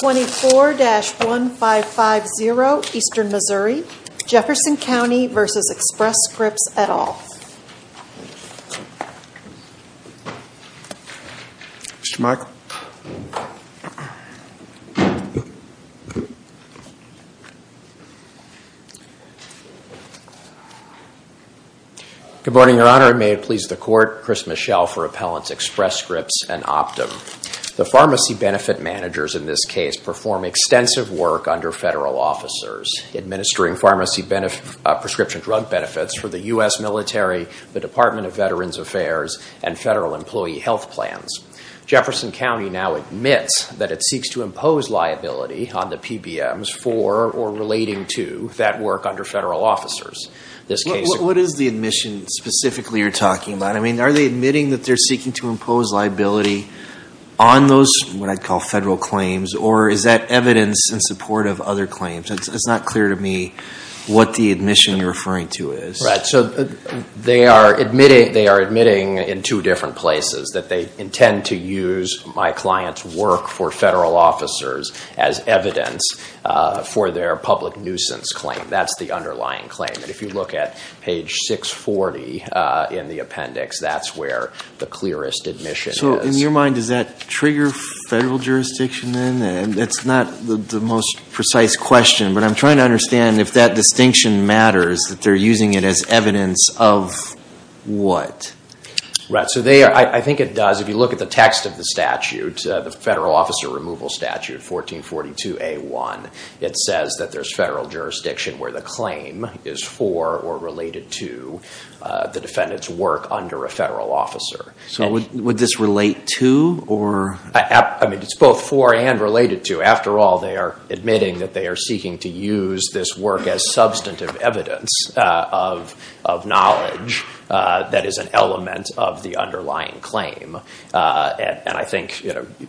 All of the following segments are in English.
24-1550 Eastern Missouri, Jefferson County v. Express Scripts, et al. Good morning, Your Honor. May it please the Court, Chris Michel for Appellants Express Scripts and Optum. The pharmacy benefit managers in this case perform extensive work under federal officers, administering pharmacy prescription drug benefits for the U.S. military, the Department of Veterans Affairs, and federal employee health plans. Jefferson County now admits that it seeks to impose liability on the PBMs for or relating to that work under federal officers. What is the admission specifically you're talking about? I mean, are they admitting that they're seeking to impose liability on those what I'd call federal claims, or is that evidence in support of other claims? It's not clear to me what the admission you're referring to is. Right. So they are admitting in two different places that they intend to use my client's work for federal officers as evidence for their public nuisance claim. That's the underlying claim. And if you look at page 640 in the appendix, that's where the clearest admission is. In your mind, does that trigger federal jurisdiction then? That's not the most precise question, but I'm trying to understand if that distinction matters, that they're using it as evidence of what? Right. So I think it does. If you look at the text of the statute, the Federal Officer Removal Statute, 1442A1, it says that there's federal jurisdiction where the claim is for or related to the defendant's work under a federal officer. So would this relate to or? I mean, it's both for and related to. After all, they are admitting that they are seeking to use this work as substantive evidence of knowledge that is an element of the underlying claim. And I think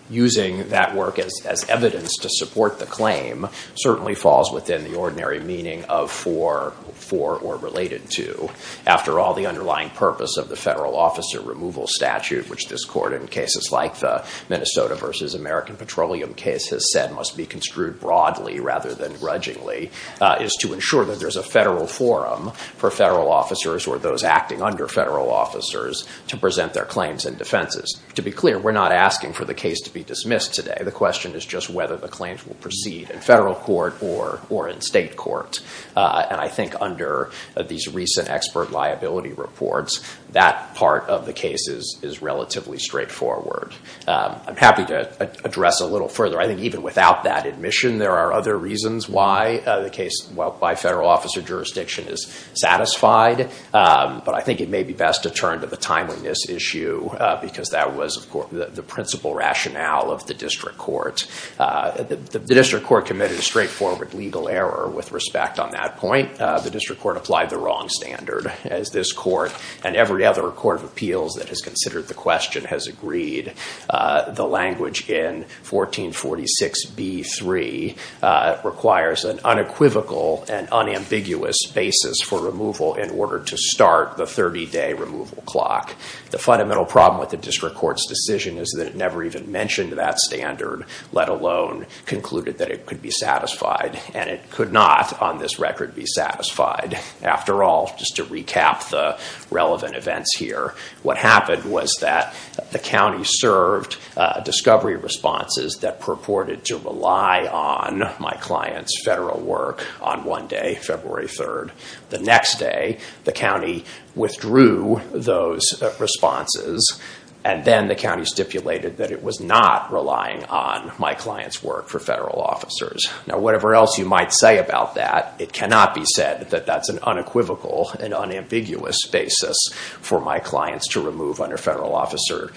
using that work as evidence to support the claim certainly falls within the ordinary meaning of for or related to. After all, the underlying purpose of the Federal Officer Removal Statute, which this court in cases like the Minnesota v. American Petroleum case has said must be construed broadly rather than grudgingly, is to ensure that there's a federal forum for federal officers or those acting under federal officers to present their claims and defenses. To be clear, we're not asking for the case to be dismissed today. The question is just whether the claims will proceed in federal court or in state court. And I think under these recent expert liability reports, that part of the case is relatively straightforward. I'm happy to address a little further. I think even without that admission, there are other reasons why the case by federal officer jurisdiction is satisfied. But I think it may be best to turn to the timeliness issue because that was the principal rationale of the district court. The district court committed a straightforward legal error with respect on that point. The district court applied the wrong standard as this court and every other court of appeals that has considered the question has agreed. The language in 1446b-3 requires an unequivocal and unambiguous basis for removal in order to start the 30-day removal clock. The fundamental problem with the district court's decision is that it never even mentioned that standard, let alone concluded that it could be satisfied. And it could not, on this record, be satisfied. After all, just to recap the relevant events here, what happened was that the county served discovery responses that purported to rely on my client's federal work on one day, February 3rd. The next day, the county withdrew those responses and then the county stipulated that it was not relying on my client's work for federal officers. Now whatever else you might say about that, it cannot be said that that's an unequivocal and unambiguous basis for my clients to remove under federal officer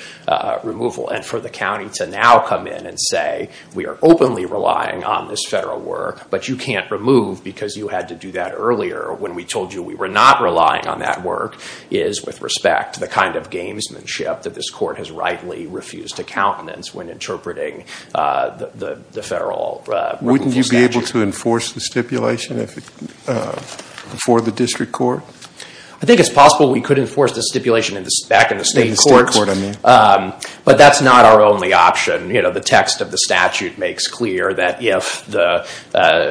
removal. And for the county to now come in and say, we are openly relying on this federal work, but you can't remove because you had to do that earlier when we told you we were not relying on that work, is, with respect, the kind of gamesmanship that this court has rightly refused to countenance when interpreting the federal rule. Wouldn't you be able to enforce the stipulation for the district court? I think it's possible we could enforce the stipulation back in the state courts, but that's not our only option. You know, the text of the statute makes clear that if the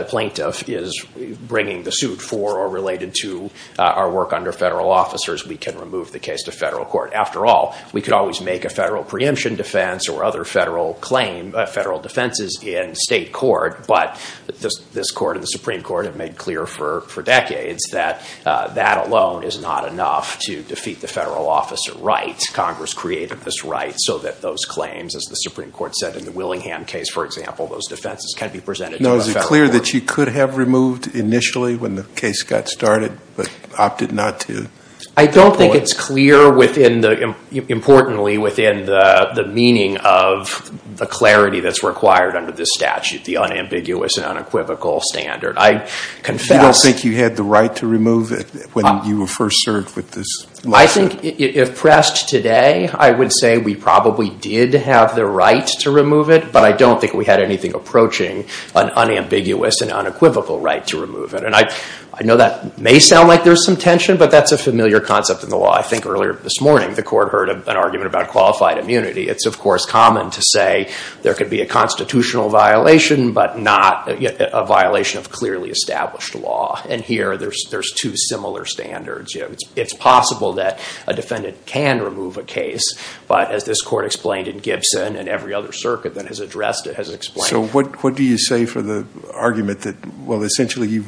plaintiff is bringing the suit for or related to our work under federal officers, we can remove the case to federal court. After all, we could always make a federal preemption defense or other federal claim, federal defenses in state court, but this court and the Supreme Court have made clear for decades that that alone is not enough to defeat the federal officer right. Congress created this right so that those claims, as the Supreme Court said in the Willingham case, for example, those defenses can be presented to a federal court. Now, is it clear that you could have removed initially when the case got started, but opted not to? I don't think it's clear within the, importantly, within the meaning of the clarity that's required under this statute, the unambiguous and unequivocal standard. I confess. You don't think you had the right to remove it when you were first served with this lawsuit? I think if pressed today, I would say we probably did have the right to remove it, but I don't think we had anything approaching an unambiguous and unequivocal right to remove it. And I know that may sound like there's some tension, but that's a familiar concept in the law. I think earlier this morning, the court heard an argument about qualified immunity. It's, of course, common to say there could be a constitutional violation, but not a violation of clearly established law. And here, there's two similar standards. It's possible that a defendant can remove a case, but as this court explained in Gibson and every other circuit that has addressed it has explained. So what do you say for the argument that, well, essentially,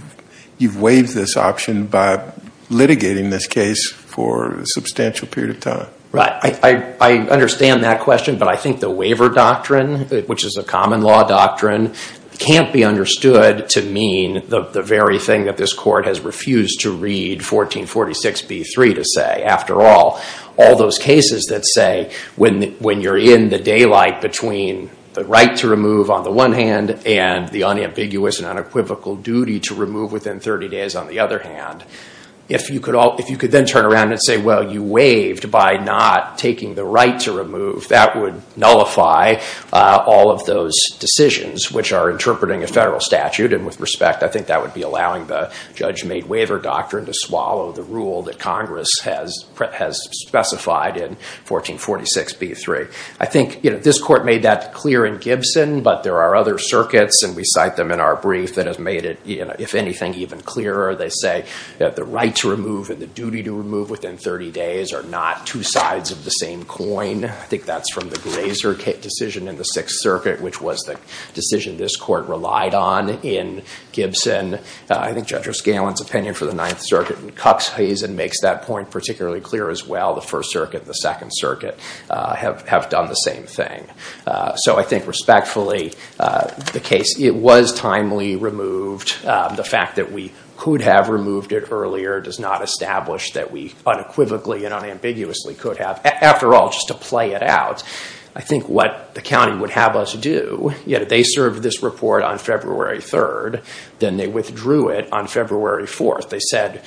you've waived this option by litigating this case for a substantial period of time? Right. I understand that question, but I think the waiver doctrine, which is a common law doctrine, can't be understood to mean the very thing that this court has refused to read 1446b-3 to say. After all, all those cases that say when you're in the daylight between the right to remove on the one hand and the unambiguous and unequivocal duty to remove within 30 days on the other hand, if you could then turn around and say, well, you waived by not taking the right to remove, that would nullify all of those decisions, which are interpreting a federal statute. And with respect, I think that would be allowing the judge-made waiver doctrine to swallow the rule that Congress has specified in 1446b-3. I think this court made that clear in Gibson, but there are other circuits, and we cite them in our brief, that has made it, if anything, even clearer. They say that the right to remove and the duty to remove within 30 days are not two sides of the same coin. I think that's from the Glazer decision in the Sixth Circuit, which was the decision this court relied on in Gibson. I think Judge O'Scalin's opinion for the Ninth Circuit and Cox-Hazen makes that point particularly clear as well. The First Circuit and the Second Circuit have done the same thing. So I think respectfully, the case, it was timely removed. The fact that we could have removed it earlier does not establish that we unequivocally and unambiguously could have. After all, just to play it out, I think what the county would have us do, you know, they served this report on February 3rd, then they withdrew it on February 4th. They said,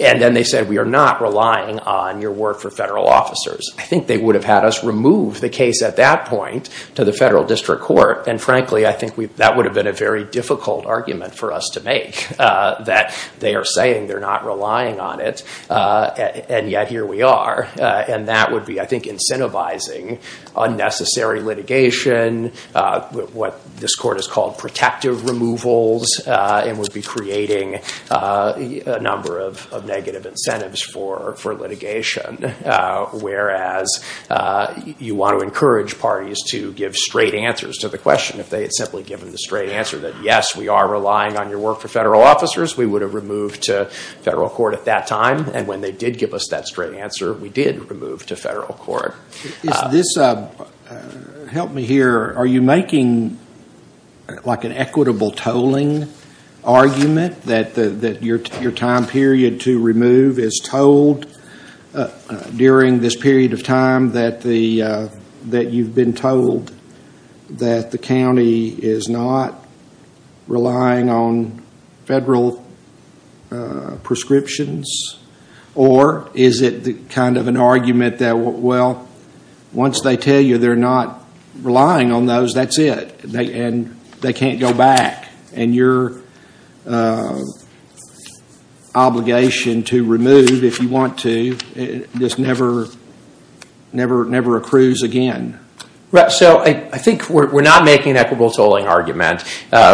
and then they said, we are not relying on your work for federal officers. I think they would have had us remove the case at that point to the federal district court. And frankly, I think that would have been a very difficult argument for us to make, that they are saying they're not relying on it, and yet here we are. And that would be, I think, incentivizing unnecessary litigation, what this court has called protective removals, and would be creating a number of negative incentives for litigation. Whereas you want to encourage parties to give straight answers to the question, if they had simply given the straight answer that, yes, we are relying on your work for federal officers, we would have removed to federal court at that time. And when they did give us that straight answer, we did remove to federal court. Is this, help me here, are you making like an equitable tolling argument, that your time period to remove is told during this period of time, that the, that you've been told that the county is not relying on federal prescriptions? Or is it kind of an argument that, well, once they tell you they're not relying on those, that's it. And they can't go back. And your obligation to remove, if you want to, just never accrues again. Right, so I think we're not making an equitable tolling argument.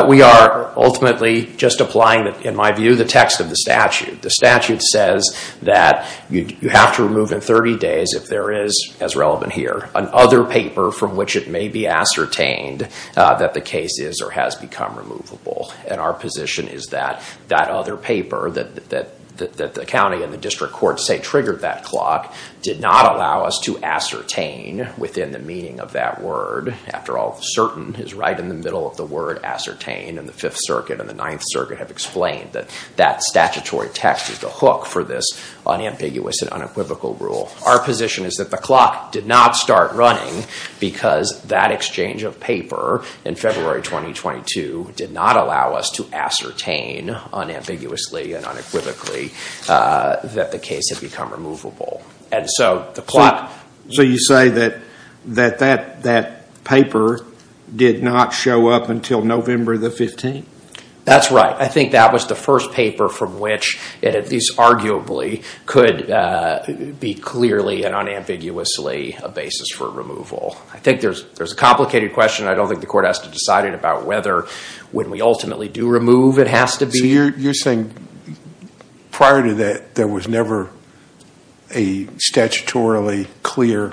We are ultimately just applying, in my view, the text of the statute. The statute says that you have to remove in 30 days if there is, as relevant here, an other paper from which it may be ascertained that the case is or has become removable. And our position is that that other paper, that the county and the district courts say triggered that clock, did not allow us to ascertain within the meaning of that word. After all, certain is right in the middle of the word ascertain. And the Fifth Circuit and the Ninth Circuit have explained that that statutory text is the hook for this unambiguous and unequivocal rule. Our position is that the clock did not start running because that exchange of paper in February 2022 did not allow us to ascertain unambiguously and unequivocally that the case had become removable. And so the clock... So you say that that paper did not show up until November the 15th? That's right. I think that was the first paper from which it at least arguably could be clearly and unambiguously a basis for removal. I think there's a complicated question. I don't think the court has to decide it about whether, when we ultimately do remove, it has to be... You're saying prior to that, there was never a statutorily clear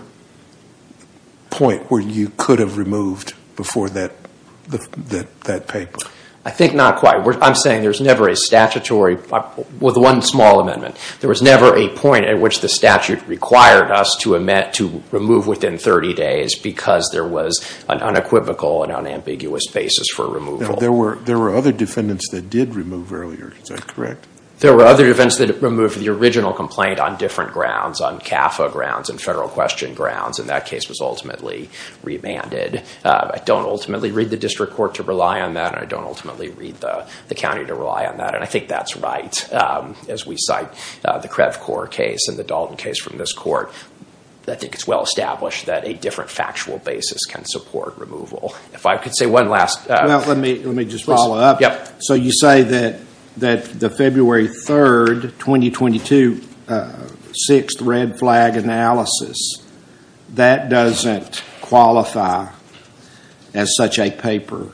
point where you could have removed before that paper? I think not quite. I'm saying there's never a statutory... With one small amendment. There was never a point at which the statute required us to remove within 30 days because there was an unequivocal and unambiguous basis for removal. There were other defendants that did remove earlier. Is that correct? There were other defendants that removed the original complaint on different grounds, on CAFA grounds and federal question grounds. And that case was ultimately remanded. I don't ultimately read the district court to rely on that. I don't ultimately read the county to rely on that. And I think that's right. As we cite the KrevCorp case and the Dalton case from this court, I think it's well established that a different factual basis can support removal. If I could say one last... Well, let me just follow up. So you say that the February 3rd, 2022, sixth red flag analysis, that doesn't qualify as such a paper?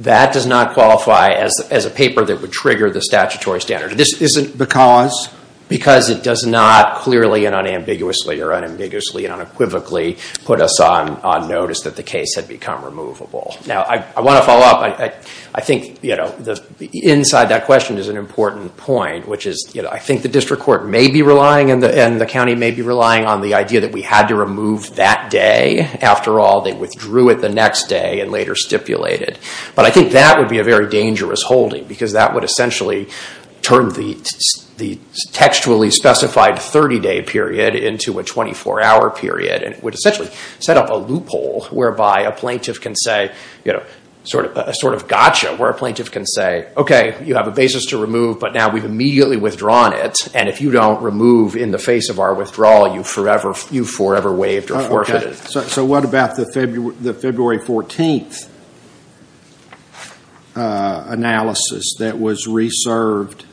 That does not qualify as a paper that would trigger the statutory standard. This isn't because? Because it does not clearly and unambiguously or unambiguously and unequivocally put us on notice that the case had become removable. Now, I want to follow up. I think, you know, inside that question is an important point, which is, you know, I think the district court may be relying and the county may be relying on the idea that we had to remove that day. After all, they withdrew it the next day and later stipulated. But I think that would be a very dangerous holding because that would essentially turn the textually specified 30-day period into a 24-hour period. And it would essentially set up a loophole whereby a plaintiff can say, you know, sort of gotcha, where a plaintiff can say, OK, you have a basis to remove, but now we've immediately withdrawn it. And if you don't remove in the face of our withdrawal, you've forever waived or forfeited. So what about the February 14th analysis that was reserved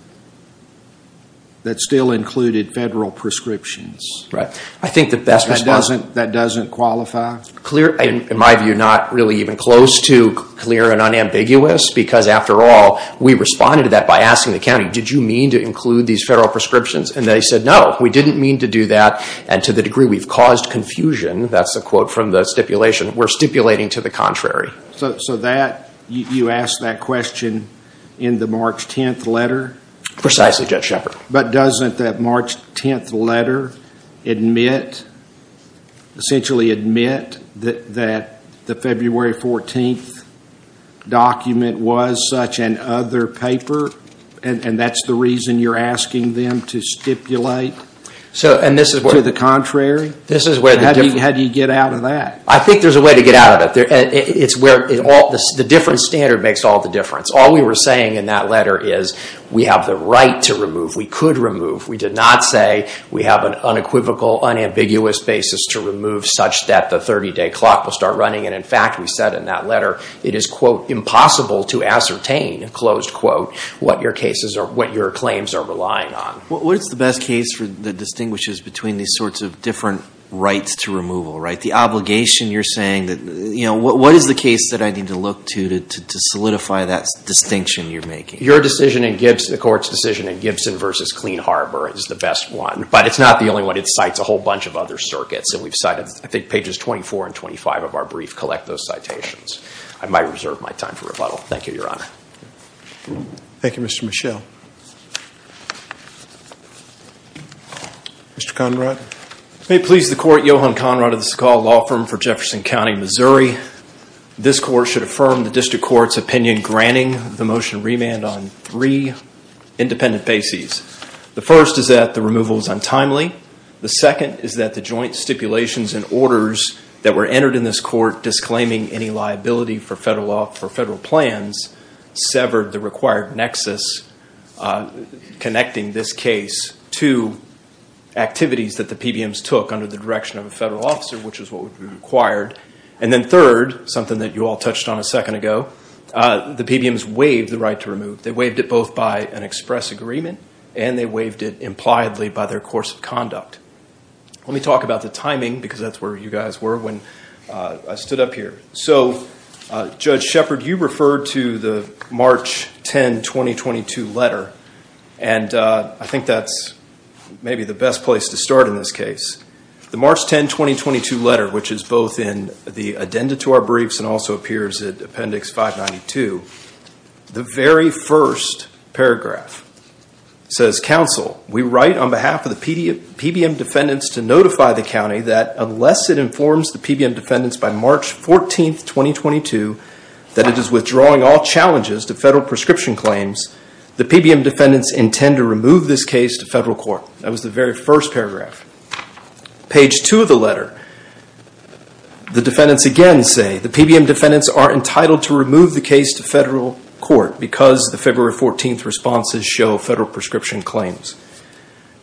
that still included federal prescriptions? Right. I think that doesn't qualify. Clear, in my view, not really even close to clear and unambiguous because after all, we responded to that by asking the county, did you mean to include these federal prescriptions? And they said, no, we didn't mean to do that. And to the degree we've caused confusion, that's a quote from the stipulation, we're stipulating to the contrary. So that, you ask that question in the March 10th letter? Precisely, Judge Shepard. But doesn't that March 10th letter admit, essentially admit, that the February 14th document was such an other paper? And that's the reason you're asking them to stipulate to the contrary? This is where the difference. How do you get out of that? I think there's a way to get out of it. It's where the different standard makes all the difference. All we were saying in that letter is we have the right to remove, we could remove. We did not say we have an unequivocal, unambiguous basis to remove such that the 30-day clock will start running. And in fact, we said in that letter, it is, quote, impossible to ascertain, closed quote, what your claims are relying on. What is the best case that distinguishes between these sorts of different rights to removal, right? The obligation you're saying that, you know, what is the case that I need to look to to solidify that distinction you're making? Your decision and the court's decision in Gibson versus Clean Harbor is the best one. But it's not the only one. It cites a whole bunch of other circuits. And we've cited, I think, pages 24 and 25 of our brief collect those citations. I might reserve my time for rebuttal. Thank you, Your Honor. Thank you, Mr. Mischel. Mr. Conrad. May it please the court, Johan Conrad of the Sequoia Law Firm for Jefferson County, Missouri. This court should affirm the district court's opinion granting the motion remand on three independent bases. The first is that the removal is untimely. The second is that the joint stipulations and orders that were entered in this court disclaiming any liability for federal plans, severed the required nexus connecting this case to activities that the PBMs took under the direction of a federal officer, which is what would be required. And then third, something that you all touched on a second ago, the PBMs waived the right to remove. They waived it both by an express agreement and they waived it impliedly by their course of conduct. Let me talk about the timing because that's where you guys were when I stood up here. So, Judge Shepard, you referred to the March 10, 2022 letter. And I think that's maybe the best place to start in this case. The March 10, 2022 letter, which is both in the addenda to our briefs and also appears in Appendix 592, the very first paragraph says, Council, we write on behalf of the PBM defendants to notify the county that unless it informs the PBM defendants by March 14, 2022, that it is withdrawing all challenges to federal prescription claims, the PBM defendants intend to remove this case to federal court. That was the very first paragraph. Page two of the letter, the defendants again say, the PBM defendants are entitled to remove the case to federal court because the February 14th responses show federal prescription claims.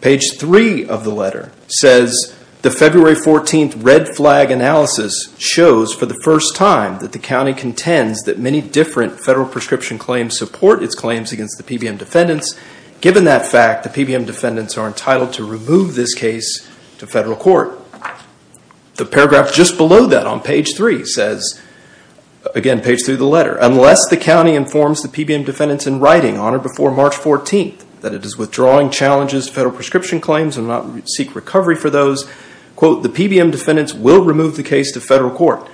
Page three of the letter says, the February 14th red flag analysis shows for the first time that the county contends that many different federal prescription claims support its claims against the PBM defendants. Given that fact, the PBM defendants are entitled to remove this case to federal court. The paragraph just below that on page three says, again, page three of the letter, unless the county informs the PBM defendants in writing on or before March 14, that it is withdrawing challenges to federal prescription claims and not seek recovery for those, the PBM defendants will remove the case to federal court.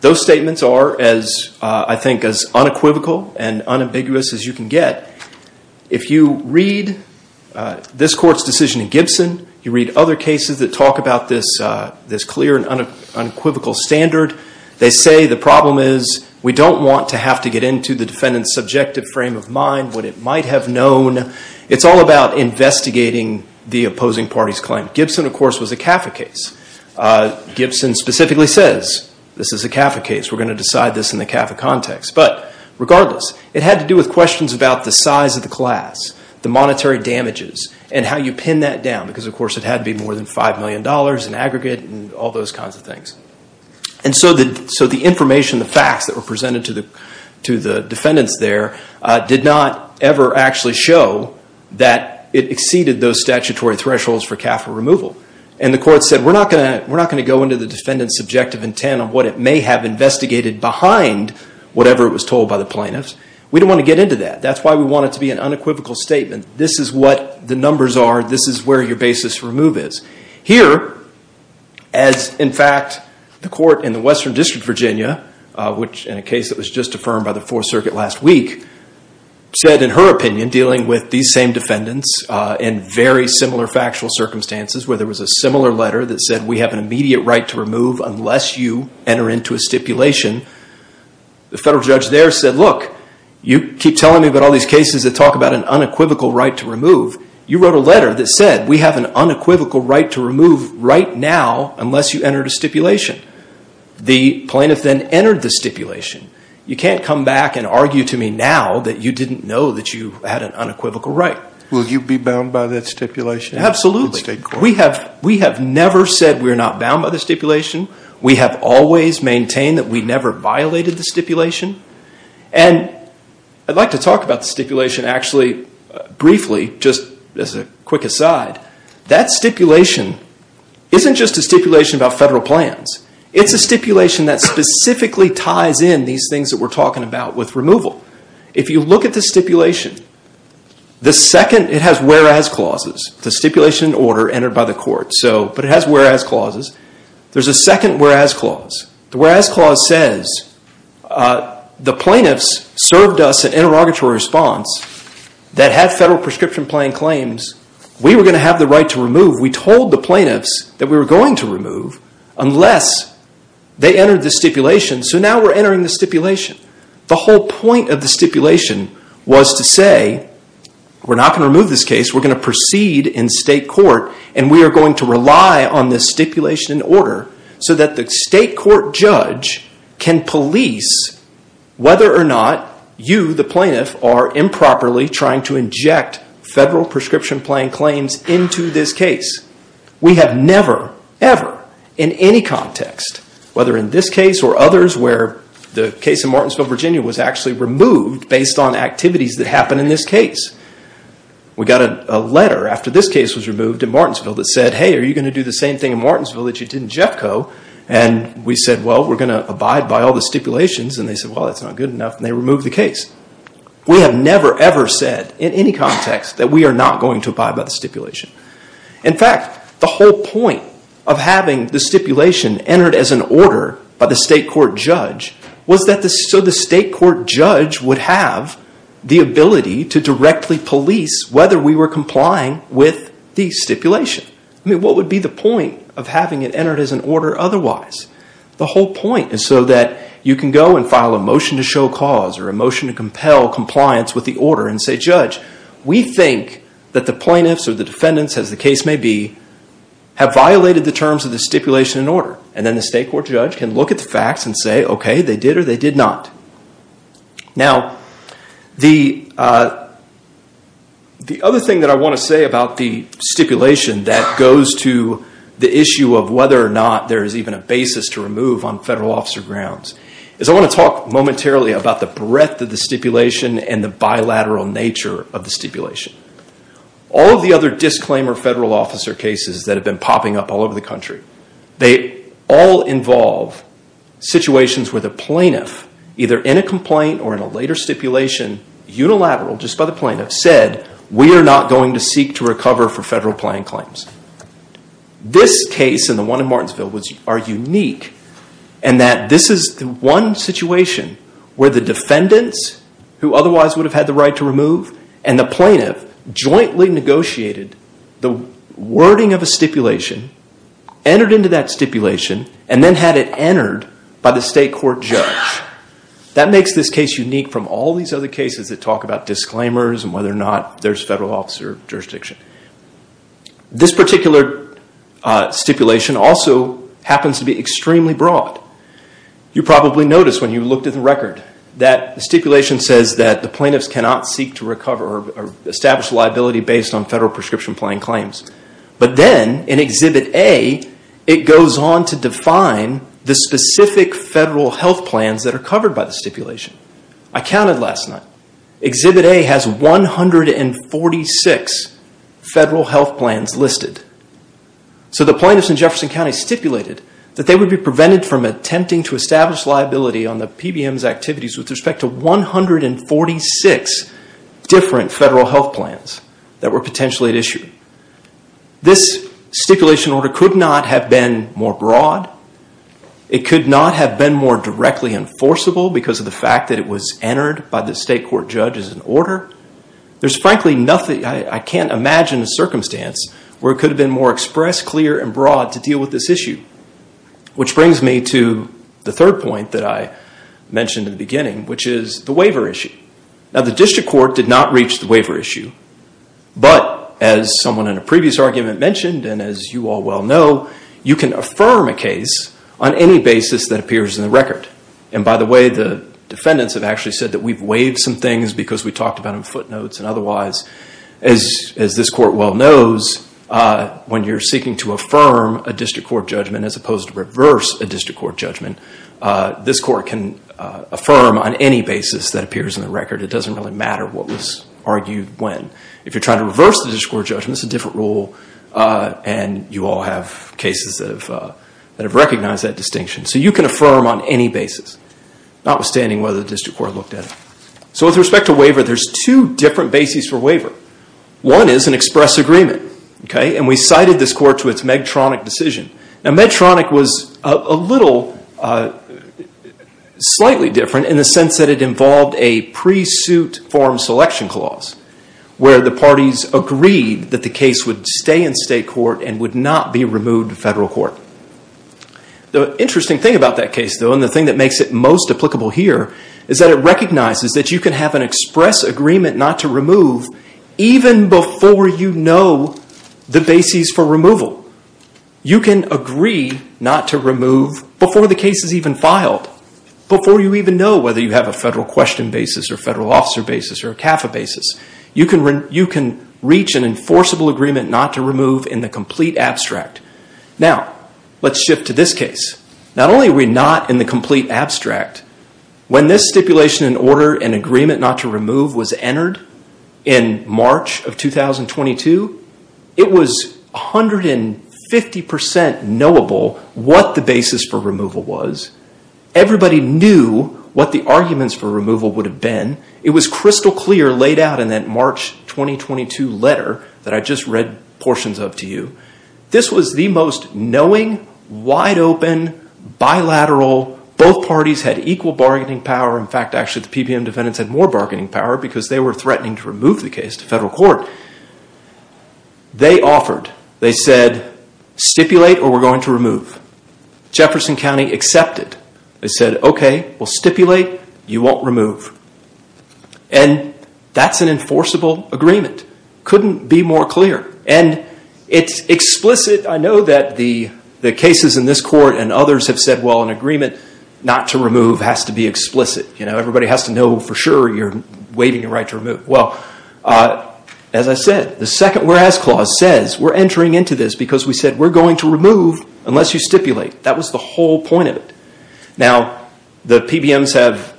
Those statements are, I think, as unequivocal and unambiguous as you can get. If you read this court's decision in Gibson, you read other cases that talk about this clear and unequivocal standard, they say the problem is we don't want to have to get into the defendant's subjective frame of mind, what it might have known. It's all about investigating the opposing party's claim. Gibson, of course, was a CAFA case. Gibson specifically says this is a CAFA case. We're going to decide this in the CAFA context. But regardless, it had to do with questions about the size of the class, the monetary damages, and how you pin that down. Because, of course, it had to be more than $5 million in aggregate and all those kinds of things. And so the information, the facts that were presented to the defendants there, did not ever actually show that it exceeded those statutory thresholds for CAFA removal. And the court said we're not going to go into the defendant's subjective intent on what it may have investigated behind whatever it was told by the plaintiffs. We don't want to get into that. That's why we want it to be an unequivocal statement. This is what the numbers are. This is where your basis to remove is. Here, as, in fact, the court in the Western District of Virginia, which in a case that was just affirmed by the Fourth Circuit last week, said in her opinion, dealing with these same defendants, in very similar factual circumstances where there was a similar letter that said we have an immediate right to remove unless you enter into a stipulation. The federal judge there said, look, you keep telling me about all these cases that talk about an unequivocal right to remove. You wrote a letter that said we have an unequivocal right to remove right now unless you entered a stipulation. The plaintiff then entered the stipulation. You can't come back and argue to me now that you didn't know that you had an unequivocal right. Will you be bound by that stipulation? Absolutely. We have never said we're not bound by the stipulation. We have always maintained that we never violated the stipulation. And I'd like to talk about the stipulation actually briefly, just as a quick aside. That stipulation isn't just a stipulation about federal plans. It's a stipulation that specifically ties in these things that we're talking about with removal. If you look at the stipulation, the second it has whereas clauses, the stipulation in order entered by the court, but it has whereas clauses. There's a second whereas clause. The whereas clause says the plaintiffs served us an interrogatory response that had federal prescription plan claims. We were going to have the right to remove. We told the plaintiffs that we were going to remove unless they entered the stipulation. So now we're entering the stipulation. The whole point of the stipulation was to say we're not going to remove this case. We're going to proceed in state court and we are going to rely on this stipulation in order so that the state court judge can police whether or not you, the plaintiff, are improperly trying to inject federal prescription plan claims into this case. We have never, ever in any context, whether in this case or others where the case in Martinsville, Virginia was actually removed based on activities that happened in this case. We got a letter after this case was removed in Martinsville that said, hey, are you going to do the same thing in Martinsville that you did in Jetco? And we said, well, we're going to abide by all the stipulations. And they said, well, that's not good enough, and they removed the case. We have never, ever said in any context that we are not going to abide by the stipulation. In fact, the whole point of having the stipulation entered as an order by the state court judge was so that the state court judge would have the ability to directly police whether we were complying with the stipulation. I mean, what would be the point of having it entered as an order otherwise? The whole point is so that you can go and file a motion to show cause or a motion to compel compliance with the order and say, judge, we think that the plaintiffs or the defendants, as the case may be, have violated the terms of the stipulation and order. And then the state court judge can look at the facts and say, okay, they did or they did not. Now, the other thing that I want to say about the stipulation that goes to the issue of whether or not there is even a basis to remove on federal officer grounds is I want to talk momentarily about the breadth of the stipulation and the bilateral nature of the stipulation. All of the other disclaimer federal officer cases that have been popping up all over the country, they all involve situations where the plaintiff, either in a complaint or in a later stipulation, unilateral, just by the plaintiff, said, we are not going to seek to recover for federal claim claims. This case and the one in Martinsville are unique in that this is the one situation where the defendants, who otherwise would have had the right to remove, and the plaintiff jointly negotiated the wording of a stipulation, entered into that stipulation, and then had it entered by the state court judge. That makes this case unique from all these other cases that talk about disclaimers and whether or not there is federal officer jurisdiction. This particular stipulation also happens to be extremely broad. You probably noticed when you looked at the record that the stipulation says that the plaintiffs cannot seek to recover or establish liability based on federal prescription claim claims. But then, in Exhibit A, it goes on to define the specific federal health plans that are covered by the stipulation. I counted last night. Exhibit A has 146 federal health plans listed. So the plaintiffs in Jefferson County stipulated that they would be prevented from attempting to establish liability on the PBM's activities with respect to 146 different federal health plans that were potentially at issue. This stipulation order could not have been more broad. It could not have been more directly enforceable because of the fact that it was entered by the state court judge as an order. There's frankly nothing, I can't imagine a circumstance, where it could have been more expressed, clear, and broad to deal with this issue. Which brings me to the third point that I mentioned in the beginning, which is the waiver issue. The district court did not reach the waiver issue. But, as someone in a previous argument mentioned, and as you all well know, you can affirm a case on any basis that appears in the record. By the way, the defendants have actually said that we've waived some things because we talked about them in footnotes and otherwise. As this court well knows, when you're seeking to affirm a district court judgment as opposed to reverse a district court judgment, this court can affirm on any basis that appears in the record. It doesn't really matter what was argued when. If you're trying to reverse the district court judgment, it's a different rule, and you all have cases that have recognized that distinction. So you can affirm on any basis, notwithstanding whether the district court looked at it. So with respect to waiver, there's two different bases for waiver. One is an express agreement. And we cited this court to its Medtronic decision. Now Medtronic was a little, slightly different, in the sense that it involved a pre-suit form selection clause, where the parties agreed that the case would stay in state court and would not be removed to federal court. The interesting thing about that case, though, and the thing that makes it most applicable here, is that it recognizes that you can have an express agreement not to remove even before you know the bases for removal. You can agree not to remove before the case is even filed, before you even know whether you have a federal question basis or a federal officer basis or a CAFA basis. You can reach an enforceable agreement not to remove in the complete abstract. Now, let's shift to this case. Not only are we not in the complete abstract, when this stipulation and order and agreement not to remove was entered in March of 2022, it was 150% knowable what the basis for removal was. Everybody knew what the arguments for removal would have been. It was crystal clear laid out in that March 2022 letter that I just read portions of to you. This was the most knowing, wide open, bilateral. Both parties had equal bargaining power. In fact, actually, the PBM defendants had more bargaining power because they were threatening to remove the case to federal court. They offered. They said, stipulate or we're going to remove. Jefferson County accepted. They said, okay, we'll stipulate. You won't remove. And that's an enforceable agreement. Couldn't be more clear. And it's explicit. I know that the cases in this court and others have said, well, an agreement not to remove has to be explicit. Everybody has to know for sure you're waiving your right to remove. Well, as I said, the second whereas clause says we're entering into this because we said we're going to remove unless you stipulate. That was the whole point of it. Now, the PBMs have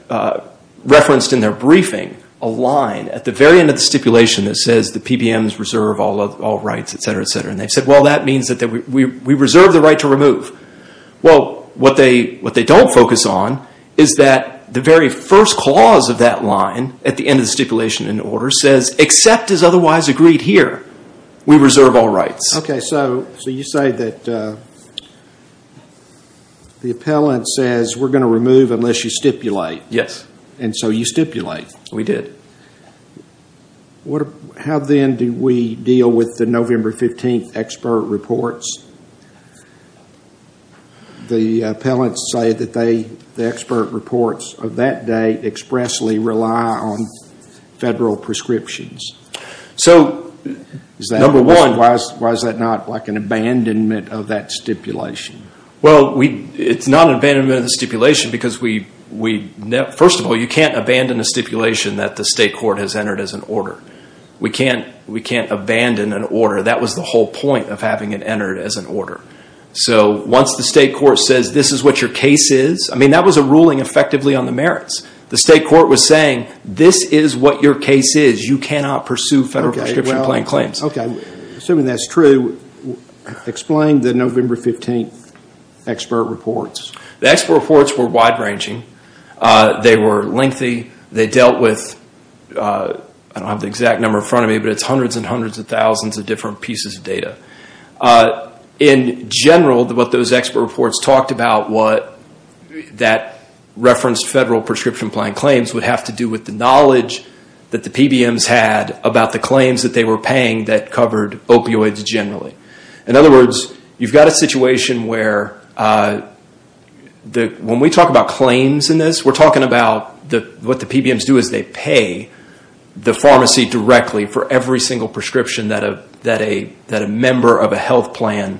referenced in their briefing a line at the very end of the stipulation that says the PBMs reserve all rights, et cetera, et cetera. And they've said, well, that means that we reserve the right to remove. Well, what they don't focus on is that the very first clause of that line at the end of the stipulation in order says, except as otherwise agreed here, we reserve all rights. Okay, so you say that the appellant says we're going to remove unless you stipulate. Yes. And so you stipulate. We did. How, then, do we deal with the November 15th expert reports? The appellants say that the expert reports of that day expressly rely on federal prescriptions. So, number one, why is that not like an abandonment of that stipulation? Well, it's not an abandonment of the stipulation because, first of all, you can't abandon a stipulation that the state court has entered as an order. We can't abandon an order. That was the whole point of having it entered as an order. So once the state court says this is what your case is, I mean, that was a ruling effectively on the merits. The state court was saying this is what your case is. You cannot pursue federal prescription plan claims. Okay, assuming that's true, explain the November 15th expert reports. The expert reports were wide-ranging. They were lengthy. They dealt with, I don't have the exact number in front of me, but it's hundreds and hundreds of thousands of different pieces of data. In general, what those expert reports talked about, what that referenced federal prescription plan claims would have to do with the knowledge that the PBMs had about the claims that they were paying that covered opioids generally. In other words, you've got a situation where when we talk about claims in this, we're talking about what the PBMs do is they pay the pharmacy directly for every single prescription that a member of a health plan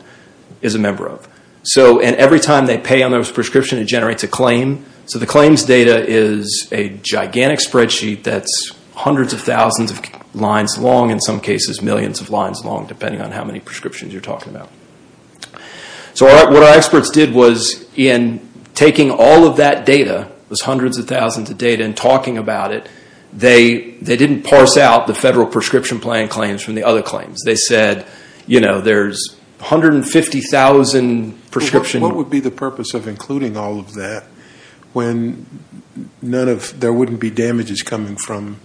is a member of. And every time they pay on those prescriptions, it generates a claim. So the claims data is a gigantic spreadsheet that's hundreds of thousands of lines long, in some cases millions of lines long depending on how many prescriptions you're talking about. So what our experts did was in taking all of that data, those hundreds of thousands of data, and talking about it, they didn't parse out the federal prescription plan claims from the other claims. They said, you know, there's 150,000 prescriptions. What would be the purpose of including all of that when none of, there wouldn't be damages coming from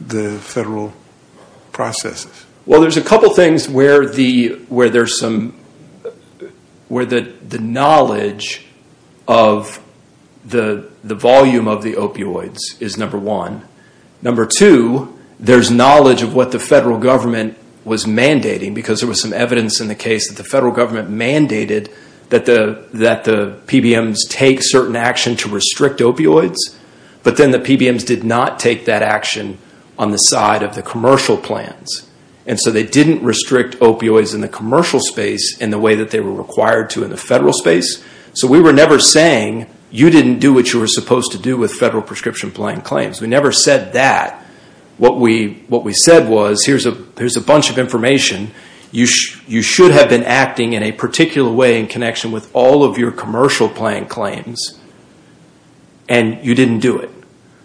the federal processes? Well, there's a couple things where the knowledge of the volume of the opioids is number one. Number two, there's knowledge of what the federal government was mandating because there was some evidence in the case that the federal government mandated that the PBMs take certain action to restrict opioids, but then the PBMs did not take that action on the side of the commercial plans. And so they didn't restrict opioids in the commercial space in the way that they were required to in the federal space. So we were never saying, you didn't do what you were supposed to do with federal prescription plan claims. We never said that. What we said was, here's a bunch of information. You should have been acting in a particular way in connection with all of your commercial plan claims, and you didn't do it.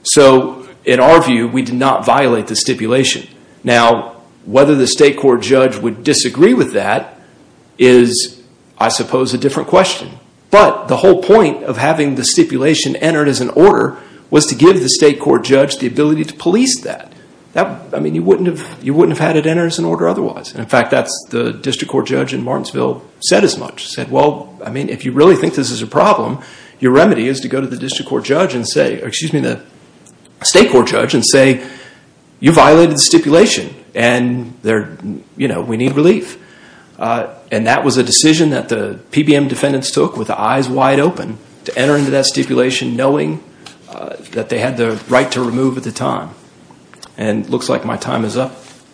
So in our view, we did not violate the stipulation. Now, whether the state court judge would disagree with that is, I suppose, a different question. But the whole point of having the stipulation entered as an order was to give the state court judge the ability to police that. I mean, you wouldn't have had it entered as an order otherwise. In fact, that's what the district court judge in Martinsville said as much. He said, well, I mean, if you really think this is a problem, your remedy is to go to the state court judge and say, you violated the stipulation, and we need relief. And that was a decision that the PBM defendants took with the eyes wide open to enter into that stipulation knowing that they had the right to remove at the time. And it looks like my time is up,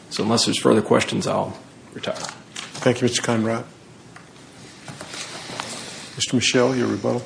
so unless there's further questions, I'll retire. Thank you, Mr. Conrad. Mr. Michel, your rebuttal.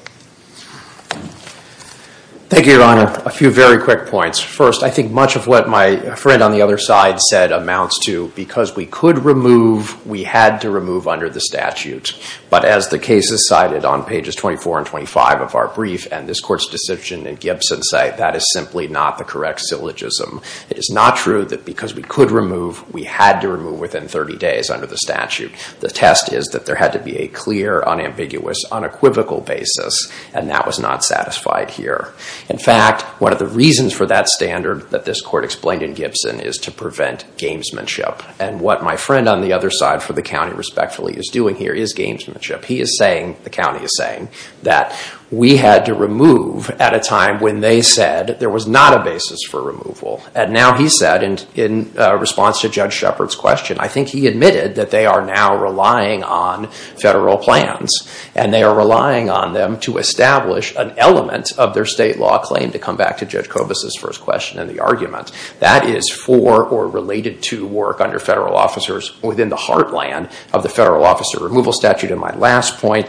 Thank you, Your Honor. A few very quick points. First, I think much of what my friend on the other side said amounts to, because we could remove, we had to remove under the statute. But as the case is cited on pages 24 and 25 of our brief, and this court's decision in Gibson say that is simply not the correct syllogism. It is not true that because we could remove, we had to remove within 30 days under the statute. The test is that there had to be a clear, unambiguous, unequivocal basis, and that was not satisfied here. In fact, one of the reasons for that standard that this court explained in Gibson is to prevent gamesmanship. And what my friend on the other side for the county respectfully is doing here is gamesmanship. He is saying, the county is saying, that we had to remove at a time when they said there was not a basis for removal. And now he said, in response to Judge Shepard's question, I think he admitted that they are now relying on federal plans, and they are relying on them to establish an element of their state law claim, to come back to Judge Kobus' first question and the argument. That is for or related to work under federal officers within the heartland of the federal officer removal statute. And my last point,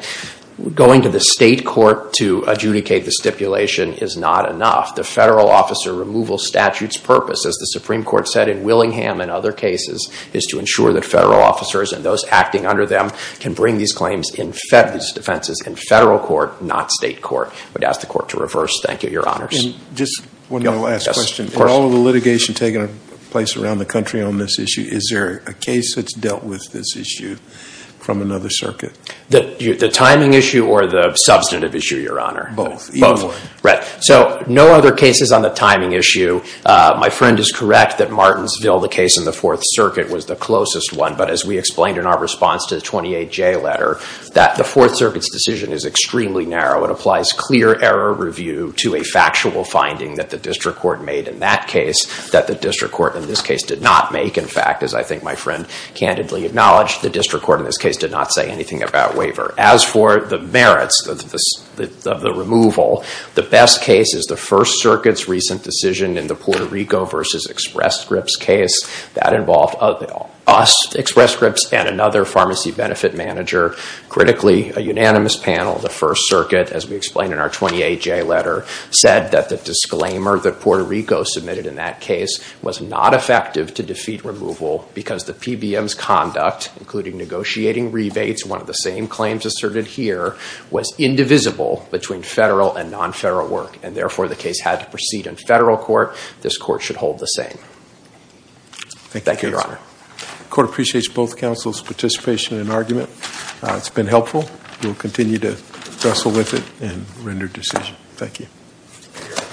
going to the state court to adjudicate the stipulation is not enough. The federal officer removal statute's purpose, as the Supreme Court said in Willingham and other cases, is to ensure that federal officers and those acting under them can bring these claims, these defenses, in federal court, not state court. I would ask the court to reverse. Thank you, Your Honors. And just one last question. With all of the litigation taking place around the country on this issue, is there a case that's dealt with this issue from another circuit? The timing issue or the substantive issue, Your Honor? Both. Right. So no other cases on the timing issue. My friend is correct that Martinsville, the case in the Fourth Circuit, was the closest one. But as we explained in our response to the 28J letter, that the Fourth Circuit's decision is extremely narrow. It applies clear error review to a factual finding that the district court made in that case, that the district court in this case did not make. In fact, as I think my friend candidly acknowledged, the district court in this case did not say anything about waiver. As for the merits of the removal, the best case is the First Circuit's recent decision in the Puerto Rico v. Express Scripts case. That involved us, Express Scripts, and another pharmacy benefit manager. Critically, a unanimous panel, the First Circuit, as we explained in our 28J letter, said that the disclaimer that Puerto Rico submitted in that case was not effective to defeat removal because the PBM's conduct, including negotiating rebates, one of the same claims asserted here, was indivisible between federal and non-federal work. And therefore, the case had to proceed in federal court. This court should hold the same. Thank you, Your Honor. The court appreciates both counsel's participation and argument. It's been helpful. We'll continue to wrestle with it and render decisions. Thank you.